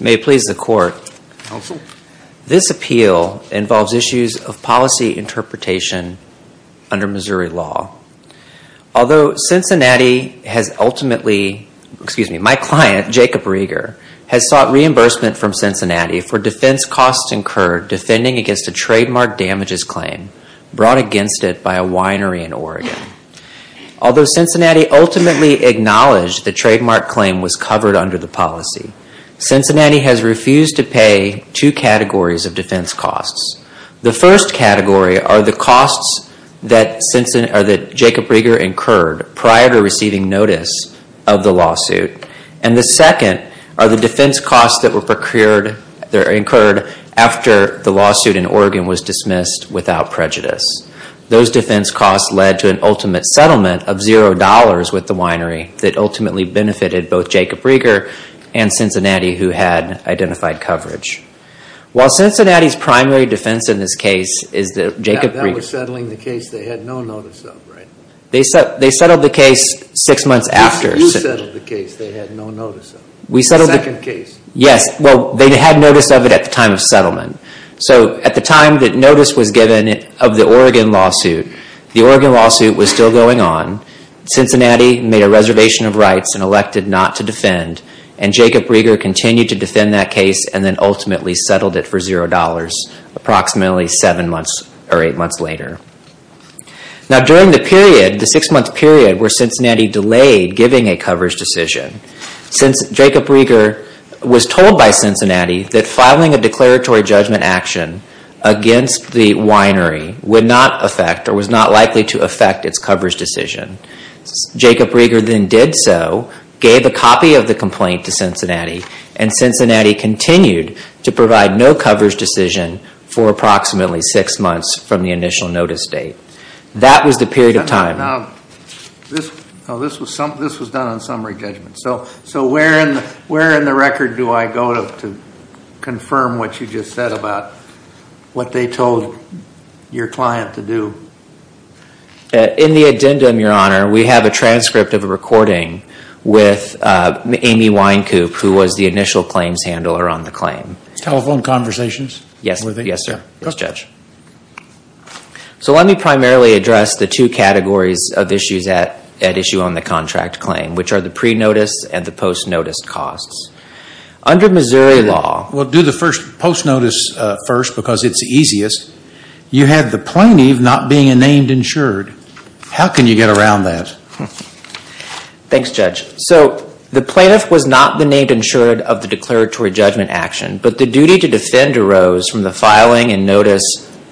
May it please the Court, this appeal involves issues of policy interpretation under Missouri law. Although Cincinnati has ultimately, excuse me, my client Jacob Rieger has sought reimbursement from Cincinnati for defense costs incurred defending against a trademark damages claim brought against it by a winery in Oregon. Although Cincinnati ultimately acknowledged the trademark claim was covered under the policy, Cincinnati has refused to pay two incurred prior to receiving notice of the lawsuit, and the second are the defense costs that were incurred after the lawsuit in Oregon was dismissed without prejudice. Those defense costs led to an ultimate settlement of $0 with the winery that ultimately benefited both Jacob Rieger and Cincinnati who had identified coverage. While Cincinnati's primary defense in this case is Jacob Rieger, they settled the case six months after. They had notice of it at the time of settlement. So at the time that notice was given of the Oregon lawsuit, the Oregon lawsuit was still going on. Cincinnati made a reservation of rights and elected not to defend, and Jacob Rieger continued to defend that case and then ultimately settled it for $0 approximately seven months or eight months later. Now during the six month period where Cincinnati delayed giving a coverage decision, Jacob Rieger was told by Cincinnati that filing a declaratory judgment action against the winery would not affect or was not likely to affect its coverage decision. Jacob Rieger then did so, gave a copy of the complaint to Cincinnati, and Cincinnati continued to defend Jacob Rieger's decision for approximately six months from the initial notice date. That was the period of time. Now this was done on summary judgment. So where in the record do I go to confirm what you just said about what they told your client to do? In the addendum, Your Honor, we have a transcript of a recording with Amy Winecoop who was the initial claims handler on the claim. Telephone conversations? Yes, sir. Yes, Judge. So let me primarily address the two categories of issues at issue on the contract claim, which are the pre-notice and the post-notice costs. Under Missouri law... Well, do the first post-notice first because it's easiest. You had the plaintiff not being a named insured. How can you get around that? Thanks, Judge. So the plaintiff was not the named insured of the declaratory judgment action, but the duty to defend arose from the filing and notice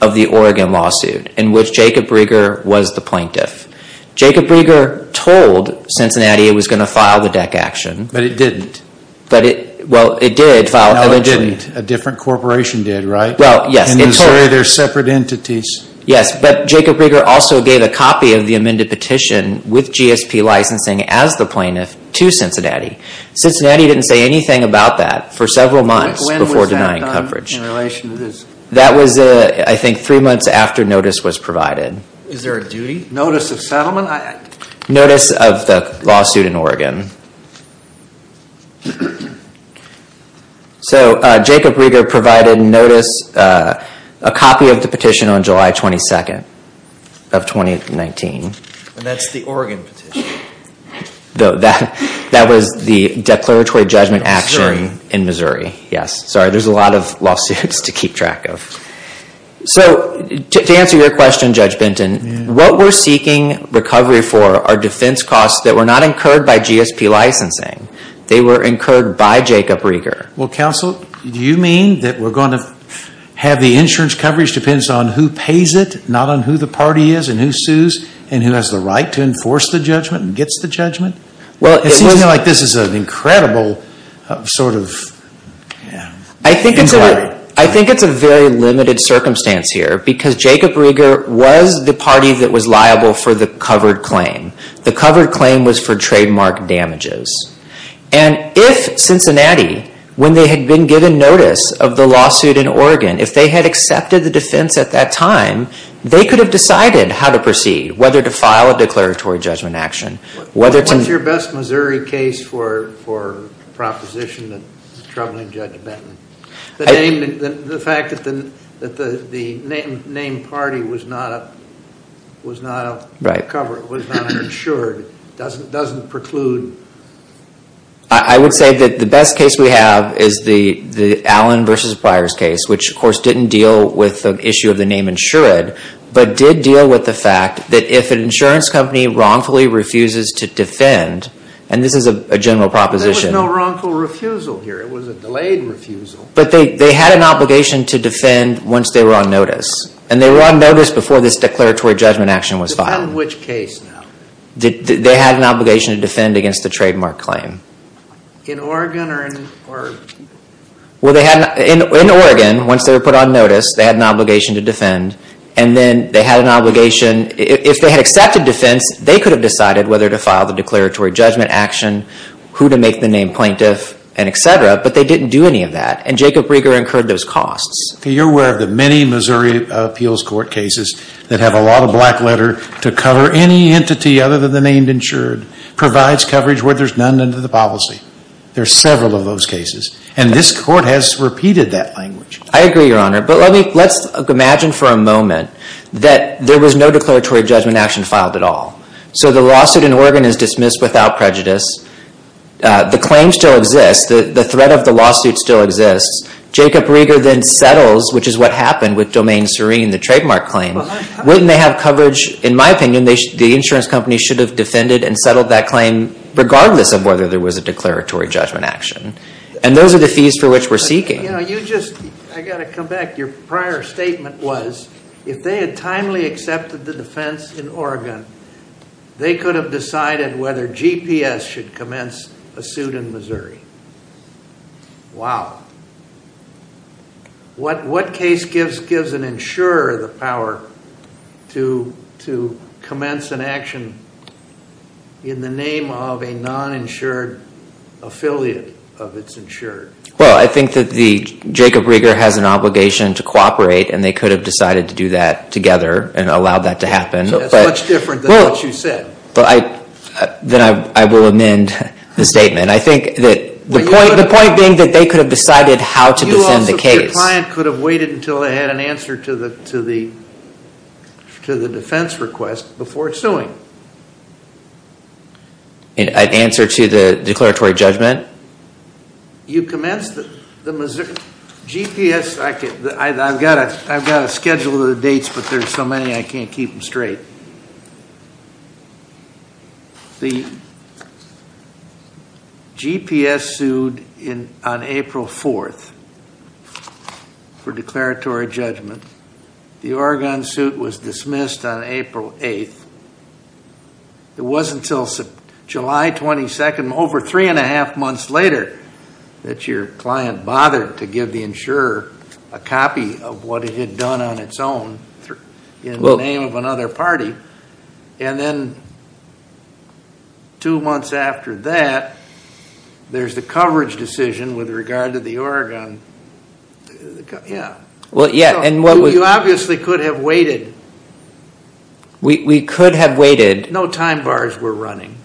of the Oregon lawsuit in which Jacob Rieger was the plaintiff. Jacob Rieger told Cincinnati it was going to file the DEC action. But it didn't. Well, it did file it eventually. No, it didn't. A different corporation did, right? Well, yes. In Missouri, they're separate entities. Yes, but Jacob Rieger also gave a copy of the amended petition with GSP licensing as the plaintiff to Cincinnati. Cincinnati didn't say anything about that for several months before denying coverage. When was that done in relation to this? That was, I think, three months after notice was provided. Is there a duty? Notice of settlement? Notice of the lawsuit in Oregon. So Jacob Rieger provided notice, a copy of the petition on July 22nd of 2019. And that's the Oregon petition? That was the declaratory judgment action in Missouri. In Missouri. Yes. Sorry, there's a lot of lawsuits to keep track of. So, to answer your question, Judge Benton, what we're seeking recovery for are defense costs that were not incurred by GSP licensing. They were incurred by Jacob Rieger. Well, counsel, do you mean that we're going to have the insurance coverage depends on who pays it, not on who the party is, and who sues, and who has the right to enforce the judgment and gets the judgment? It seems to me like this is an incredible sort of inquiry. I think it's a very limited circumstance here because Jacob Rieger was the party that was liable for the covered claim. The covered claim was for trademark damages. And if Cincinnati, when they had been given notice of the lawsuit in Oregon, if they had accepted the defense at that time, they could have decided how to proceed. Whether to file a declaratory judgment action. What's your best Missouri case for proposition troubling Judge Benton? The fact that the named party was not covered, was not insured, doesn't preclude? I would say that the best case we have is the Allen v. Byers case, which, of course, didn't deal with the issue of the name insured, but did deal with the fact that if an insurance company wrongfully refuses to defend, and this is a general proposition. There was no wrongful refusal here. It was a delayed refusal. But they had an obligation to defend once they were on notice. And they were on notice before this declaratory judgment action was filed. On which case now? They had an obligation to defend against the trademark claim. In Oregon or? Well, they had, in Oregon, once they were put on notice, they had an obligation to defend. And then they had an obligation, if they had accepted defense, they could have decided whether to file the declaratory judgment action, who to make the name plaintiff, and etc. But they didn't do any of that. And Jacob Rieger incurred those costs. You're aware of the many Missouri appeals court cases that have a lot of black letter to cover any entity other than the named insured, provides coverage where there's none under the policy. There's several of those cases. And this court has repeated that language. I agree, Your Honor. But let's imagine for a moment that there was no declaratory judgment action filed at all. So the lawsuit in Oregon is dismissed without prejudice. The claim still exists. The threat of the lawsuit still exists. Jacob Rieger then settles, which is what happened with Domain Serene, the trademark claim. Wouldn't they have coverage, in my opinion, the insurance company should have defended and settled that claim regardless of whether there was a declaratory judgment action. And those are the fees for which we're seeking. I've got to come back. Your prior statement was if they had timely accepted the defense in Oregon, they could have decided whether GPS should commence a suit in Missouri. Wow. What case gives an insurer the power to commence an action in the name of a non-insured affiliate of its insured? Well, I think that Jacob Rieger has an obligation to cooperate, and they could have decided to do that together and allowed that to happen. That's much different than what you said. Then I will amend the statement. I think that the point being that they could have decided how to defend the case. Your client could have waited until they had an answer to the defense request before suing. An answer to the declaratory judgment? You commenced the Missouri GPS. I've got a schedule of the dates, but there's so many I can't keep them straight. The GPS sued on April 4th for declaratory judgment. The Oregon suit was dismissed on April 8th. It wasn't until July 22nd, over three and a half months later, that your client bothered to give the insurer a copy of what it had done on its own in the name of another party. Then two months after that, there's the coverage decision with regard to the Oregon. You obviously could have waited. No time bars were running.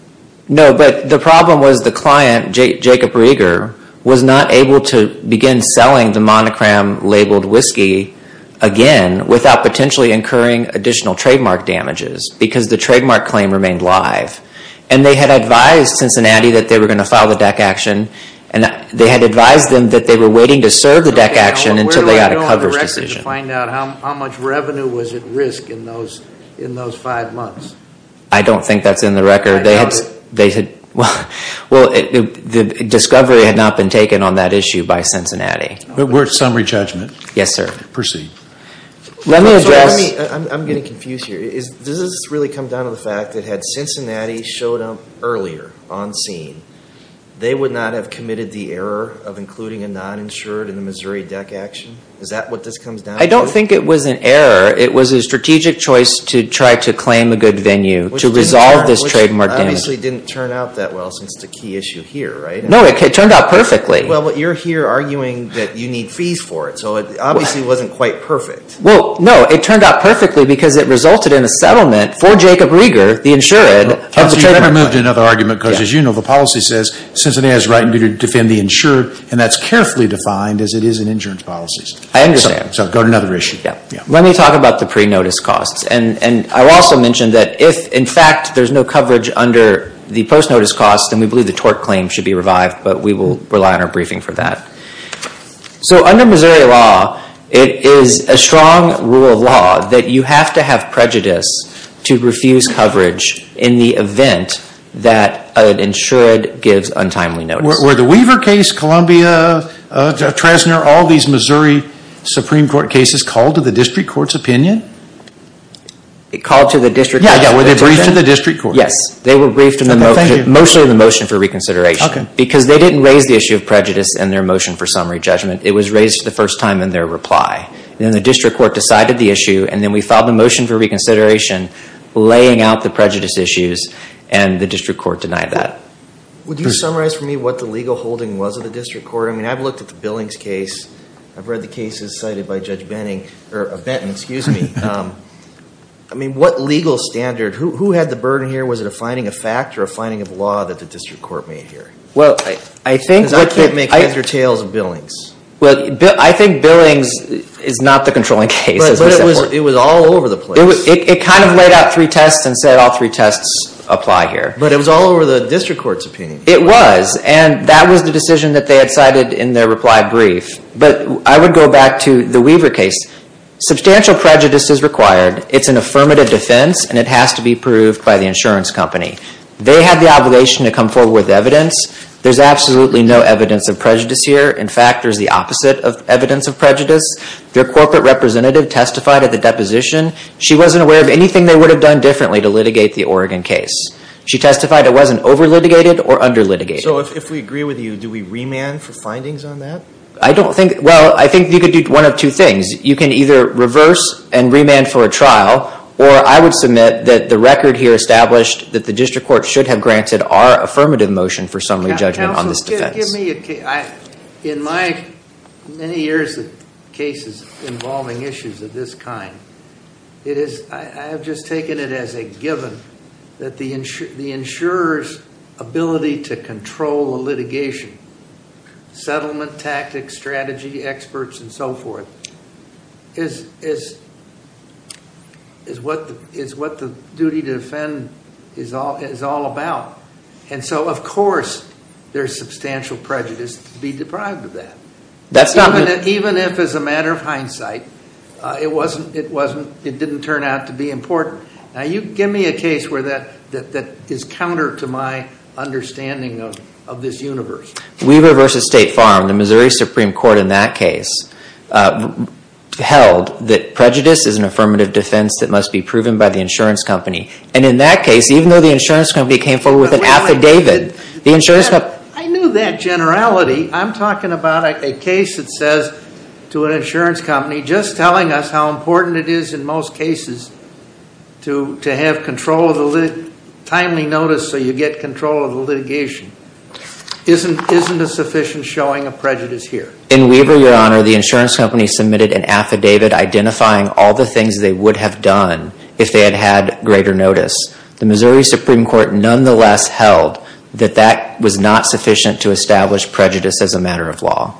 No, but the problem was the client, Jacob Rieger, was not able to begin selling the monocram labeled whiskey again without potentially incurring additional trademark damages, because the trademark claim remained live. They had advised Cincinnati that they were going to file the DEC action, and they had advised them that they were waiting to serve the DEC action until they got a coverage decision. Where do I go on the record to find out how much revenue was at risk in those five months? I don't think that's in the record. The discovery had not been taken on that issue by Cincinnati. We're at summary judgment. Yes, sir. Proceed. Let me address... I'm getting confused here. Does this really come down to the fact that had Cincinnati showed up earlier on scene, they would not have committed the error of including a non-insured in the Missouri DEC action? Is that what this comes down to? I don't think it was an error. It was a strategic choice to try to claim a good venue to resolve this trademark damage. Which obviously didn't turn out that well since the key issue here, right? No, it turned out perfectly. Well, but you're here arguing that you need fees for it, so it obviously wasn't quite perfect. Well, no, it turned out perfectly because it resulted in a settlement for Jacob Rieger, the insured, You've removed another argument because, as you know, the policy says Cincinnati has a right to defend the insured, and that's carefully defined as it is in insurance policies. I understand. So go to another issue. Let me talk about the pre-notice costs. And I'll also mention that if, in fact, there's no coverage under the post-notice costs, then we believe the tort claim should be revived, but we will rely on our briefing for that. So under Missouri law, it is a strong rule of law that you have to have prejudice to refuse coverage in the event that an insured gives untimely notice. Were the Weaver case, Columbia, Trezner, all these Missouri Supreme Court cases called to the district court's opinion? Called to the district court's opinion? Yeah, yeah. Were they briefed to the district court? Yes. They were briefed mostly in the motion for reconsideration. Okay. Because they didn't raise the issue of prejudice in their motion for summary judgment. It was raised for the first time in their reply. And then the district court decided the issue, and then we filed the motion for reconsideration, laying out the prejudice issues, and the district court denied that. Would you summarize for me what the legal holding was of the district court? I mean, I've looked at the Billings case. I've read the cases cited by Judge Benton. I mean, what legal standard? Who had the burden here? Was it a finding of fact or a finding of law that the district court made here? Well, I think— Because I can't make either tails of Billings. Well, I think Billings is not the controlling case. But it was all over the place. It kind of laid out three tests and said all three tests apply here. But it was all over the district court's opinion. It was. And that was the decision that they had cited in their reply brief. But I would go back to the Weaver case. Substantial prejudice is required. It's an affirmative defense, and it has to be proved by the insurance company. They had the obligation to come forward with evidence. There's absolutely no evidence of prejudice here. In fact, there's the opposite of evidence of prejudice. Their corporate representative testified at the deposition. She wasn't aware of anything they would have done differently to litigate the Oregon case. She testified it wasn't over-litigated or under-litigated. So if we agree with you, do we remand for findings on that? I don't think—well, I think you could do one of two things. You can either reverse and remand for a trial, or I would submit that the record here established that the district court should have granted our affirmative motion for summary judgment on this defense. In my many years of cases involving issues of this kind, I have just taken it as a given that the insurer's ability to control the litigation, settlement tactics, strategy, experts, and so forth, is what the duty to defend is all about. And so, of course, there's substantial prejudice to be deprived of that. Even if, as a matter of hindsight, it didn't turn out to be important. Now, you give me a case that is counter to my understanding of this universe. Weaver v. State Farm, the Missouri Supreme Court in that case, held that prejudice is an affirmative defense that must be proven by the insurance company. And in that case, even though the insurance company came forward with an affidavit— I knew that generality. I'm talking about a case that says to an insurance company, just telling us how important it is in most cases to have timely notice so you get control of the litigation. Isn't a sufficient showing of prejudice here? In Weaver, Your Honor, the insurance company submitted an affidavit identifying all the things they would have done if they had had greater notice. The Missouri Supreme Court, nonetheless, held that that was not sufficient to establish prejudice as a matter of law.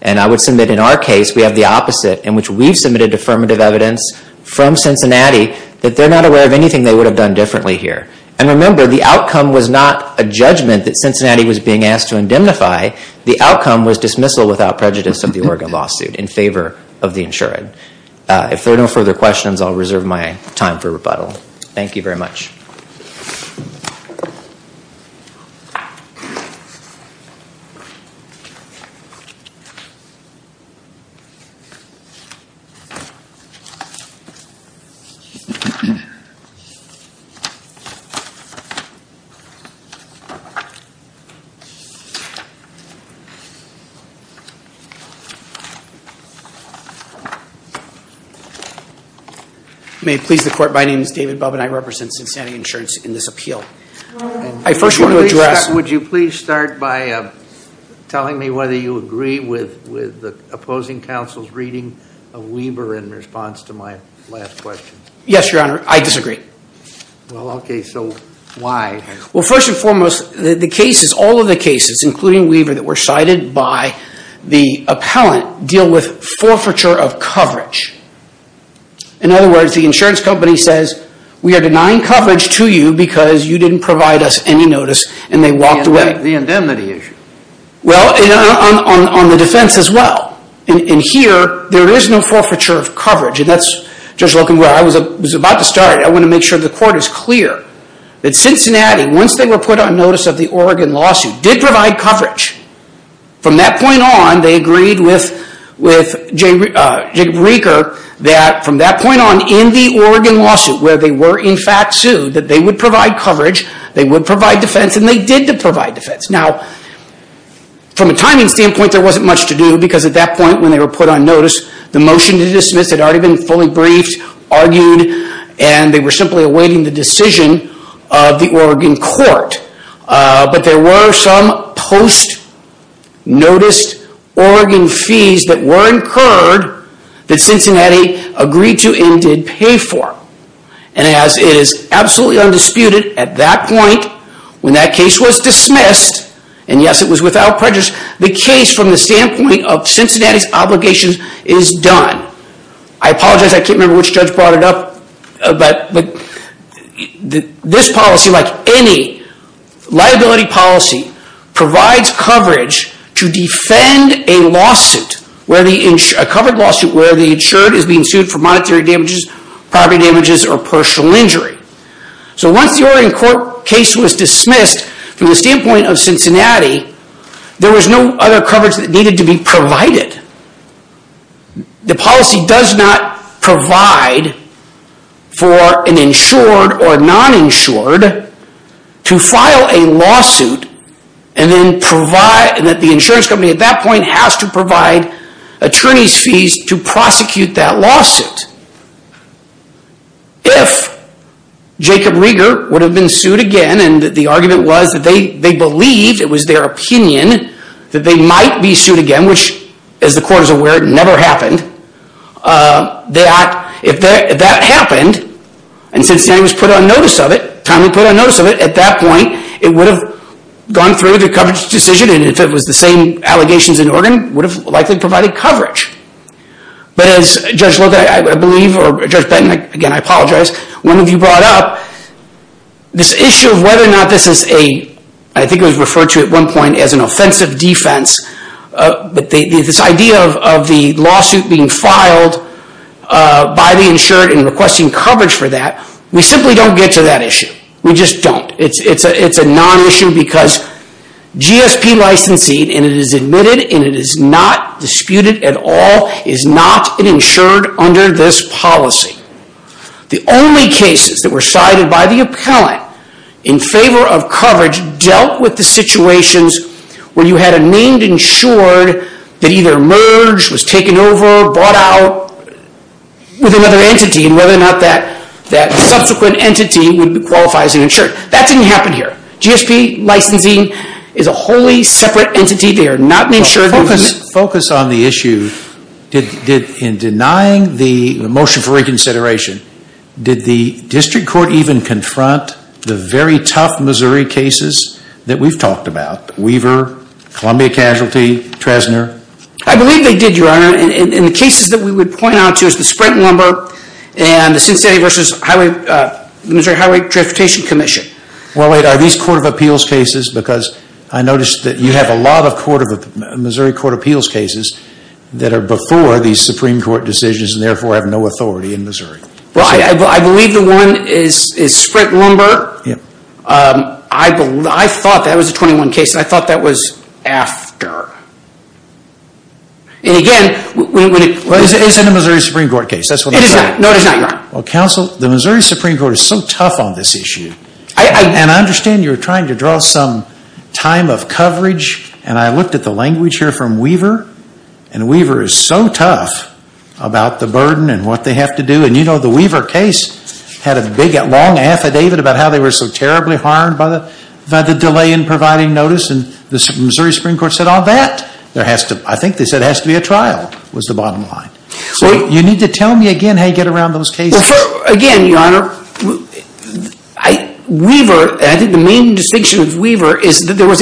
And I would submit in our case, we have the opposite, in which we've submitted affirmative evidence from Cincinnati that they're not aware of anything they would have done differently here. And remember, the outcome was not a judgment that Cincinnati was being asked to indemnify. The outcome was dismissal without prejudice of the Oregon lawsuit in favor of the insured. If there are no further questions, I'll reserve my time for rebuttal. Thank you very much. May it please the Court, my name is David Bubb, and I represent Cincinnati Insurance in this appeal. I first want to address... Would you please start by telling me whether you agree with the opposing counsel's reading of Weaver in response to my last question? Yes, Your Honor. I disagree. Well, okay. So why? including Weaver that we're talking about, that were cited by the appellant deal with forfeiture of coverage. In other words, the insurance company says, we are denying coverage to you because you didn't provide us any notice, and they walked away. The indemnity issue. Well, on the defense as well. And here, there is no forfeiture of coverage. And that's, Judge Logan, where I was about to start. I want to make sure the Court is clear that Cincinnati, once they were put on notice of the Oregon lawsuit, did provide coverage. From that point on, they agreed with Jacob Reeker, that from that point on, in the Oregon lawsuit, where they were in fact sued, that they would provide coverage, they would provide defense, and they did provide defense. Now, from a timing standpoint, there wasn't much to do, because at that point, when they were put on notice, the motion to dismiss had already been fully briefed, argued, and they were simply awaiting the decision of the Oregon Court. But there were some post-noticed Oregon fees that were incurred, that Cincinnati agreed to and did pay for. And as it is absolutely undisputed, at that point, when that case was dismissed, and yes, it was without prejudice, the case from the standpoint of Cincinnati's obligations is done. I apologize, I can't remember which judge brought it up, but this policy, like any liability policy, provides coverage to defend a lawsuit, a covered lawsuit, where the insured is being sued for monetary damages, property damages, or partial injury. So once the Oregon Court case was dismissed, from the standpoint of Cincinnati, there was no other coverage that needed to be provided. The policy does not provide for an insured or non-insured to file a lawsuit, and that the insurance company at that point has to provide attorney's fees to prosecute that lawsuit. If Jacob Rieger would have been sued again, and the argument was that they believed, it was their opinion, that they might be sued again, which, as the court is aware, never happened, that if that happened, and Cincinnati was put on notice of it, timely put on notice of it, at that point, it would have gone through the coverage decision, and if it was the same allegations in Oregon, would have likely provided coverage. But as Judge Logan, I believe, or Judge Benton, again, I apologize, one of you brought up, this issue of whether or not this is a, I think it was referred to at one point as an offensive defense, but this idea of the lawsuit being filed by the insured and requesting coverage for that, we simply don't get to that issue. We just don't. It's a non-issue because GSP licensing, and it is admitted, and it is not disputed at all, is not an insured under this policy. The only cases that were cited by the appellant in favor of coverage dealt with the situations where you had a named insured that either merged, was taken over, brought out with another entity, and whether or not that subsequent entity would qualify as an insured. That didn't happen here. GSP licensing is a wholly separate entity. They are not an insured. Focus on the issue. In denying the motion for reconsideration, did the district court even confront the very tough Missouri cases that we've talked about, Weaver, Columbia Casualty, Tresnor? I believe they did, Your Honor. And the cases that we would point out to is the Sprint Lumber and the Cincinnati versus the Missouri Highway Transportation Commission. Well, wait, are these Court of Appeals cases? Because I noticed that you have a lot of Missouri Court of Appeals cases that are before these Supreme Court decisions and therefore have no authority in Missouri. Well, I believe the one is Sprint Lumber. I thought that was a 21 case, and I thought that was after. And again... It isn't a Missouri Supreme Court case. No, it is not, Your Honor. Well, counsel, the Missouri Supreme Court is so tough on this issue. And I understand you're trying to draw some time of coverage, and I looked at the language here from Weaver, and Weaver is so tough about the burden and what they have to do. And, you know, the Weaver case had a big, long affidavit about how they were so terribly harmed by the delay in providing notice, and the Missouri Supreme Court said all that. I think they said it has to be a trial was the bottom line. So you need to tell me again how you get around those cases. Again, Your Honor, Weaver, I think the main distinction of Weaver is that there was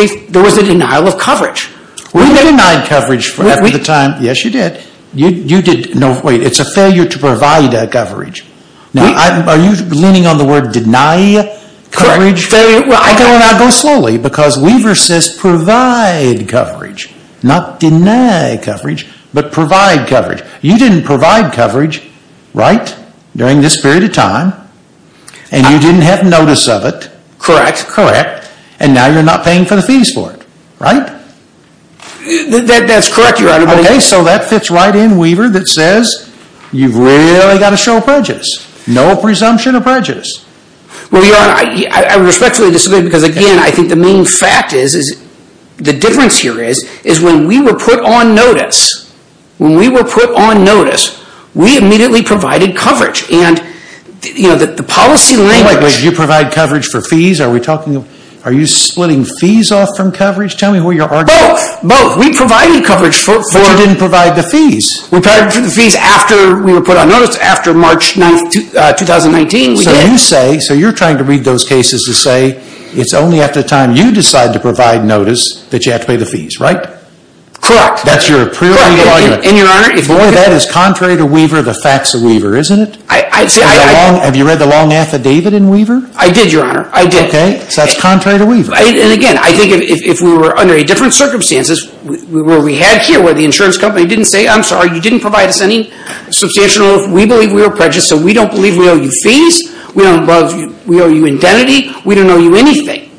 a denial of coverage. We denied coverage at the time. Yes, you did. You did. No, wait. It's a failure to provide coverage. Are you leaning on the word deny coverage? I don't want to go slowly because Weaver says provide coverage, not deny coverage, but provide coverage. You didn't provide coverage, right, during this period of time, and you didn't have notice of it. Correct. Correct. And now you're not paying for the fees for it. Right? That's correct, Your Honor. Okay, so that fits right in, Weaver, that says you've really got to show prejudice. No presumption of prejudice. Well, Your Honor, I respectfully disagree because, again, I think the main fact is, the difference here is, is when we were put on notice, when we were put on notice, we immediately provided coverage, and the policy language... You provide coverage for fees. Are you splitting fees off from coverage? Tell me who you're arguing. Both. Both. We provided coverage for... But you didn't provide the fees. We provided the fees after we were put on notice, after March 9, 2019, we did. So you say, so you're trying to read those cases to say, it's only after the time you decide to provide notice that you have to pay the fees, right? Correct. That's your preliminary argument. Correct. And, Your Honor... Boy, that is contrary to Weaver, the facts of Weaver, isn't it? I... Have you read the long affidavit in Weaver? I did, Your Honor. I did. Okay, so that's contrary to Weaver. And, again, I think if we were under different circumstances, where we had here, where the insurance company didn't say, I'm sorry, you didn't provide us any substantial... We believe we were prejudiced, so we don't believe we owe you fees, we don't owe you identity, we don't owe you anything.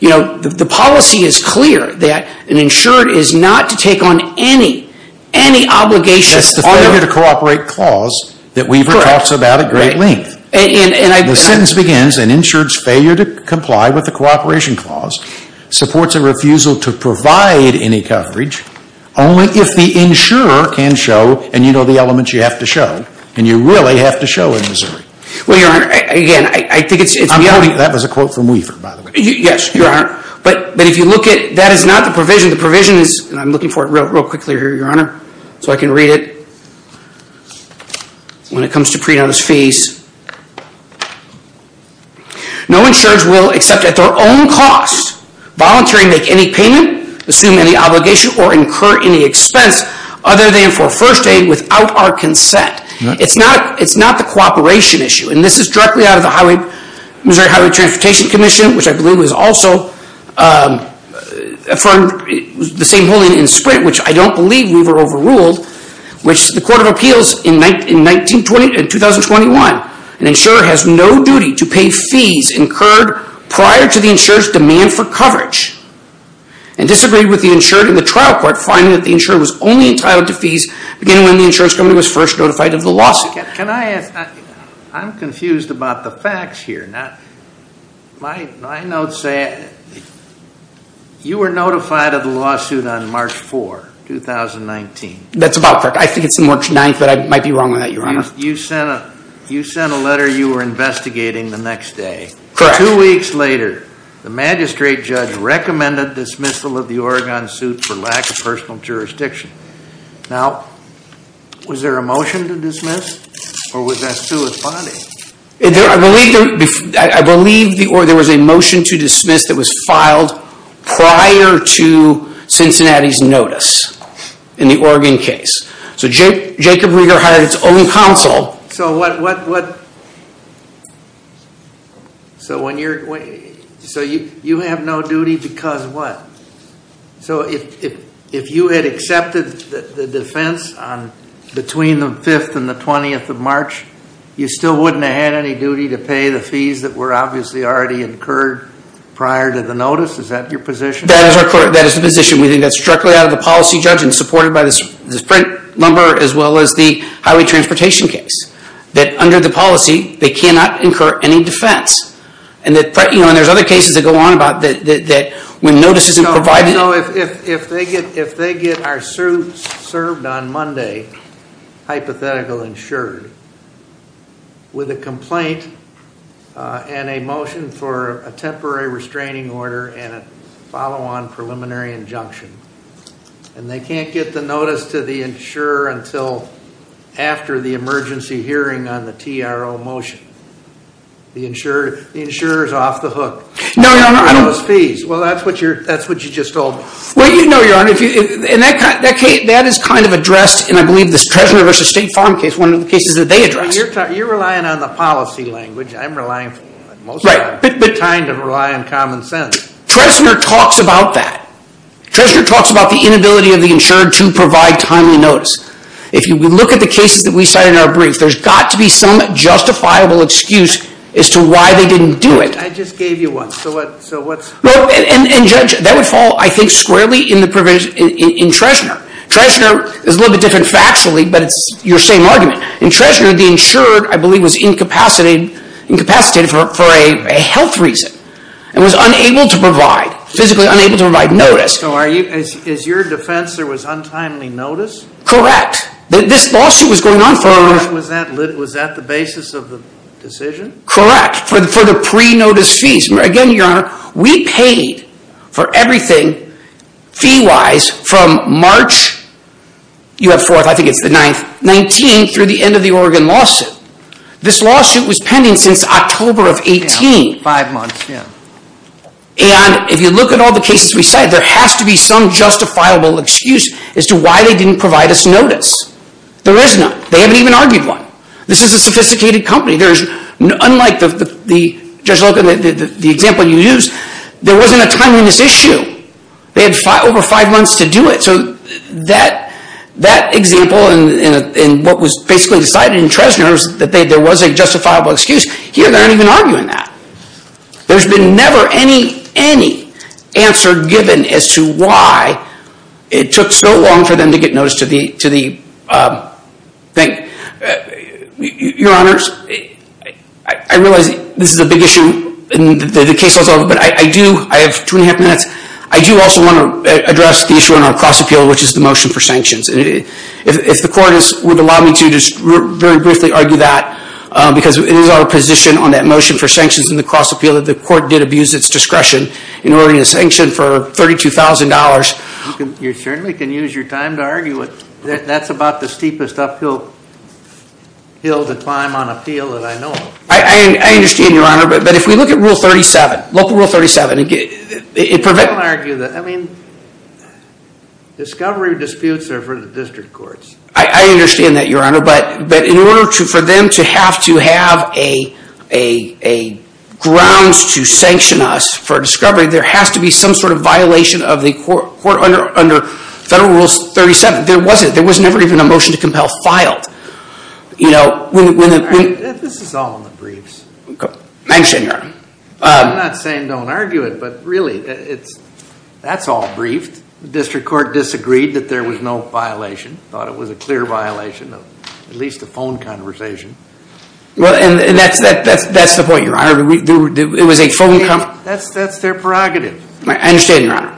You know, the policy is clear that an insured is not to take on any, any obligation... That's the failure to cooperate clause that Weaver talks about at great length. And I... The sentence begins, an insured's failure to comply with the cooperation clause supports a refusal to provide any coverage, only if the insurer can show, and you know the elements you have to show, and you really have to show in Missouri. Well, Your Honor, again, I think it's... I'm quoting... That was a quote from Weaver, by the way. Yes, Your Honor. But if you look at... That is not the provision. The provision is... And I'm looking for it real quickly here, Your Honor, so I can read it. When it comes to pre-notice fees. No insurer will accept at their own cost, voluntarily make any payment, assume any obligation, or incur any expense, other than for first aid, without our consent. It's not... It's not the cooperation issue. And this is directly out of the highway... Missouri Highway Transportation Commission, which I believe is also... from the same holding in Sprint, which I don't believe Weaver overruled, which the Court of Appeals in 19... in 2021. An insurer has no duty to pay fees incurred prior to the insurer's demand for coverage. And disagreed with the insurer in the trial court, finding that the insurer was only entitled to fees beginning when the insurance company was first notified of the lawsuit. Can I ask... I'm confused about the facts here. Not... My notes say... You were notified of the lawsuit on March 4, 2019. That's about correct. I think it's March 9, but I might be wrong on that, Your Honor. You sent a... You sent a letter. You were investigating the next day. Correct. Two weeks later, the magistrate judge recommended dismissal of the Oregon suit for lack of personal jurisdiction. Now, was there a motion to dismiss? Or was that still a finding? I believe there... I believe there was a motion to dismiss that was filed prior to Cincinnati's notice in the Oregon case. So Jacob Rieger hired his own counsel. So what... So when you're... So you have no duty because what? So if you had accepted the defense between the 5th and the 20th of March, you still wouldn't have had any duty to pay the fees that were obviously already incurred prior to the notice? Is that your position? That is the position. We think that's directly out of the policy judge and supported by the sprint number as well as the highway transportation case. That under the policy, they cannot incur any defense. And there's other cases that go on about that when notice isn't provided... No, no. If they get our suit served on Monday, hypothetical insured, with a complaint and a motion for a temporary restraining order and a follow-on preliminary injunction, and they can't get the notice to the insurer until after the emergency hearing on the TRO motion, the insurer is off the hook. No, no, no. Well, that's what you just told me. Well, no, Your Honor. And that is kind of addressed in, I believe, the Treasurer v. State Farm case, one of the cases that they addressed. You're relying on the policy language. I'm relying... Right. I'm trying to rely on common sense. Treasurer talks about that. Treasurer talks about the inability of the insured to provide timely notice. If you look at the cases that we cited in our brief, there's got to be some justifiable excuse as to why they didn't do it. I just gave you one. So what's... And, Judge, that would fall, I think, squarely in Treasurer. Treasurer is a little bit different factually, but it's your same argument. In Treasurer, the insured, I believe, was incapacitated for a health reason and was unable to provide, provide notice. So is your defense there was untimely notice? Correct. This lawsuit was going on for... Was that the basis of the decision? Correct. For the pre-notice fees. Again, Your Honor, we paid for everything, fee-wise, from March, you have 4th, I think it's the 9th, 19th through the end of the Oregon lawsuit. This lawsuit was pending since October of 18. Five months, yeah. And if you look at all the cases we cite, there has to be some justifiable excuse as to why they didn't provide us notice. There is none. They haven't even argued one. This is a sophisticated company. There is... Unlike the example you used, there wasn't a timeliness issue. They had over five months to do it. So that example and what was basically decided in Treasurer that there was a justifiable excuse, here they aren't even arguing that. There's been never any answer given as to why it took so long for them to get notice to the thing. Your Honors, I realize this is a big issue and the case is over, but I do, I have two and a half minutes, I do also want to address the issue on our cross-appeal, which is the motion for sanctions. If the court would allow me to just very briefly argue that, because it is our position on that motion for sanctions in the cross-appeal that the court did abuse its discretion in order to sanction for $32,000. You certainly can use your time to argue it. That's about the steepest uphill hill to climb on appeal that I know of. I understand, Your Honor, but if we look at Rule 37, local Rule 37, it prevents... I don't argue that. I mean, discovery disputes are for the district courts. I understand that, Your Honor, but in order for them to have to have a grounds to sanction us for discovery, there has to be some sort of violation of the court under Federal Rule 37. There wasn't. There was never even a motion to compel filed. You know, when... This is all in the briefs. Thanks, Your Honor. I'm not saying don't argue it, but really, that's all briefed. The district court disagreed that there was no violation. Thought it was a clear violation of at least a phone conversation. And that's the point, Your Honor. It was a phone conversation. That's their prerogative. I understand, Your Honor.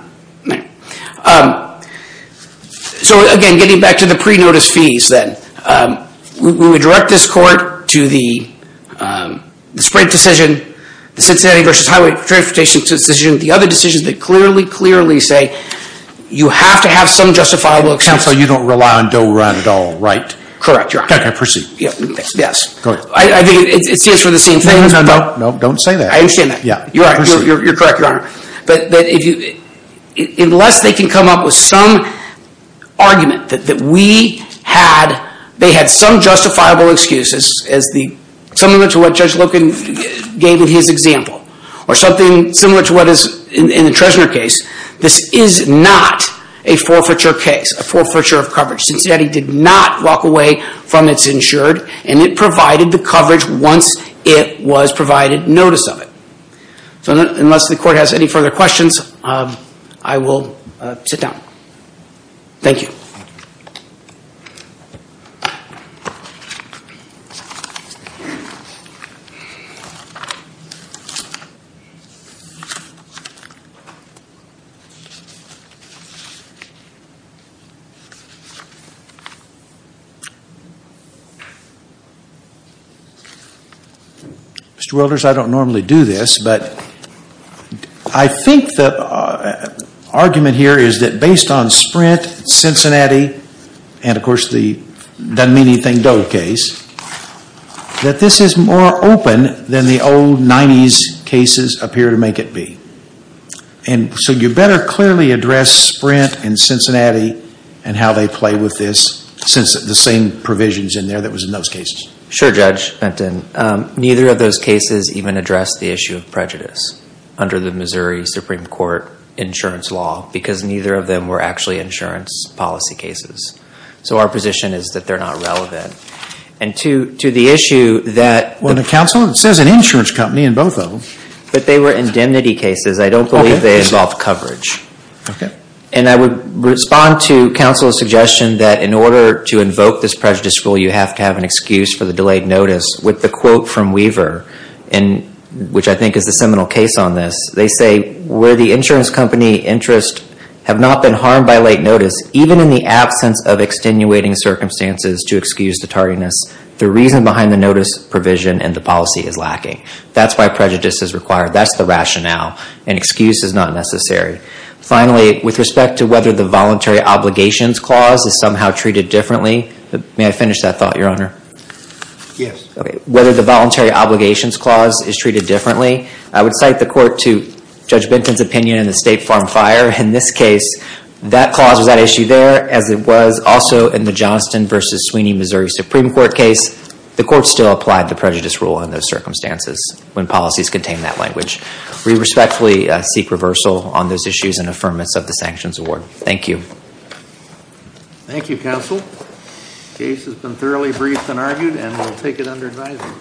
So, again, getting back to the pre-notice fees, then, we would direct this court to the Sprint decision, the Cincinnati v. Highway Transportation decision, the other decisions that clearly, clearly say you have to have some justifiable excuse. Counsel, you don't rely on Doe Run at all, right? Correct, Your Honor. Okay, proceed. Yes. Go ahead. I think it stands for the same thing. No, no, no. Don't say that. I understand that. You're correct, Your Honor. But if you... Unless they can come up with some argument that we had, they had some justifiable excuses, similar to what Judge Loken gave in his example, or something similar to what is in the Trezner case, this is not a forfeiture case, a forfeiture of coverage, Cincinnati did not walk away from its insured, and it provided the coverage once it was provided notice of it. So, unless the court has any further questions, I will sit down. Thank you. Mr. Wilders, I don't normally do this, but I think the argument here is that based on Sprint, Cincinnati, and of course the doesn't mean anything Doe case, that this is more open than the old 90s cases appear to make it be. And so you better clearly address Sprint and Cincinnati and how they play with this, since the same provisions in there that was in those cases. Sure, Judge Benton. Neither of those cases even address the issue of prejudice under the Missouri Supreme Court insurance law, because neither of them were actually insurance policy cases. So our position is that they're not relevant. And to the issue that... Well, the counsel says an insurance company in both of them. But they were indemnity cases, I don't believe they involve coverage. Okay. And I would respond to counsel's suggestion that in order to invoke this prejudice rule, you have to have an excuse for the delayed notice. With the quote from Weaver, which I think is the seminal case on this, they say, where the insurance company interest have not been harmed by late notice, even in the absence of extenuating circumstances to excuse the tardiness, the reason behind the notice provision and the policy is lacking. That's why prejudice is required. That's the rationale. An excuse is not necessary. Finally, with respect to whether the Voluntary Obligations Clause is somehow treated differently. May I finish that thought, Your Honor? Yes. Okay. Whether the Voluntary Obligations Clause is treated differently. I would cite the court to Judge Benton's opinion in the State Farm Fire. In this case, that clause, was that issue there as it was also in the Johnston v. Sweeney, Missouri Supreme Court case. The court still applied the prejudice rule in those circumstances when policies contain that language. We respectfully seek reversal on those issues and affirmance of the sanctions award. Thank you. Thank you, Counsel. Case has been thoroughly briefed and argued and we'll take it under advisory.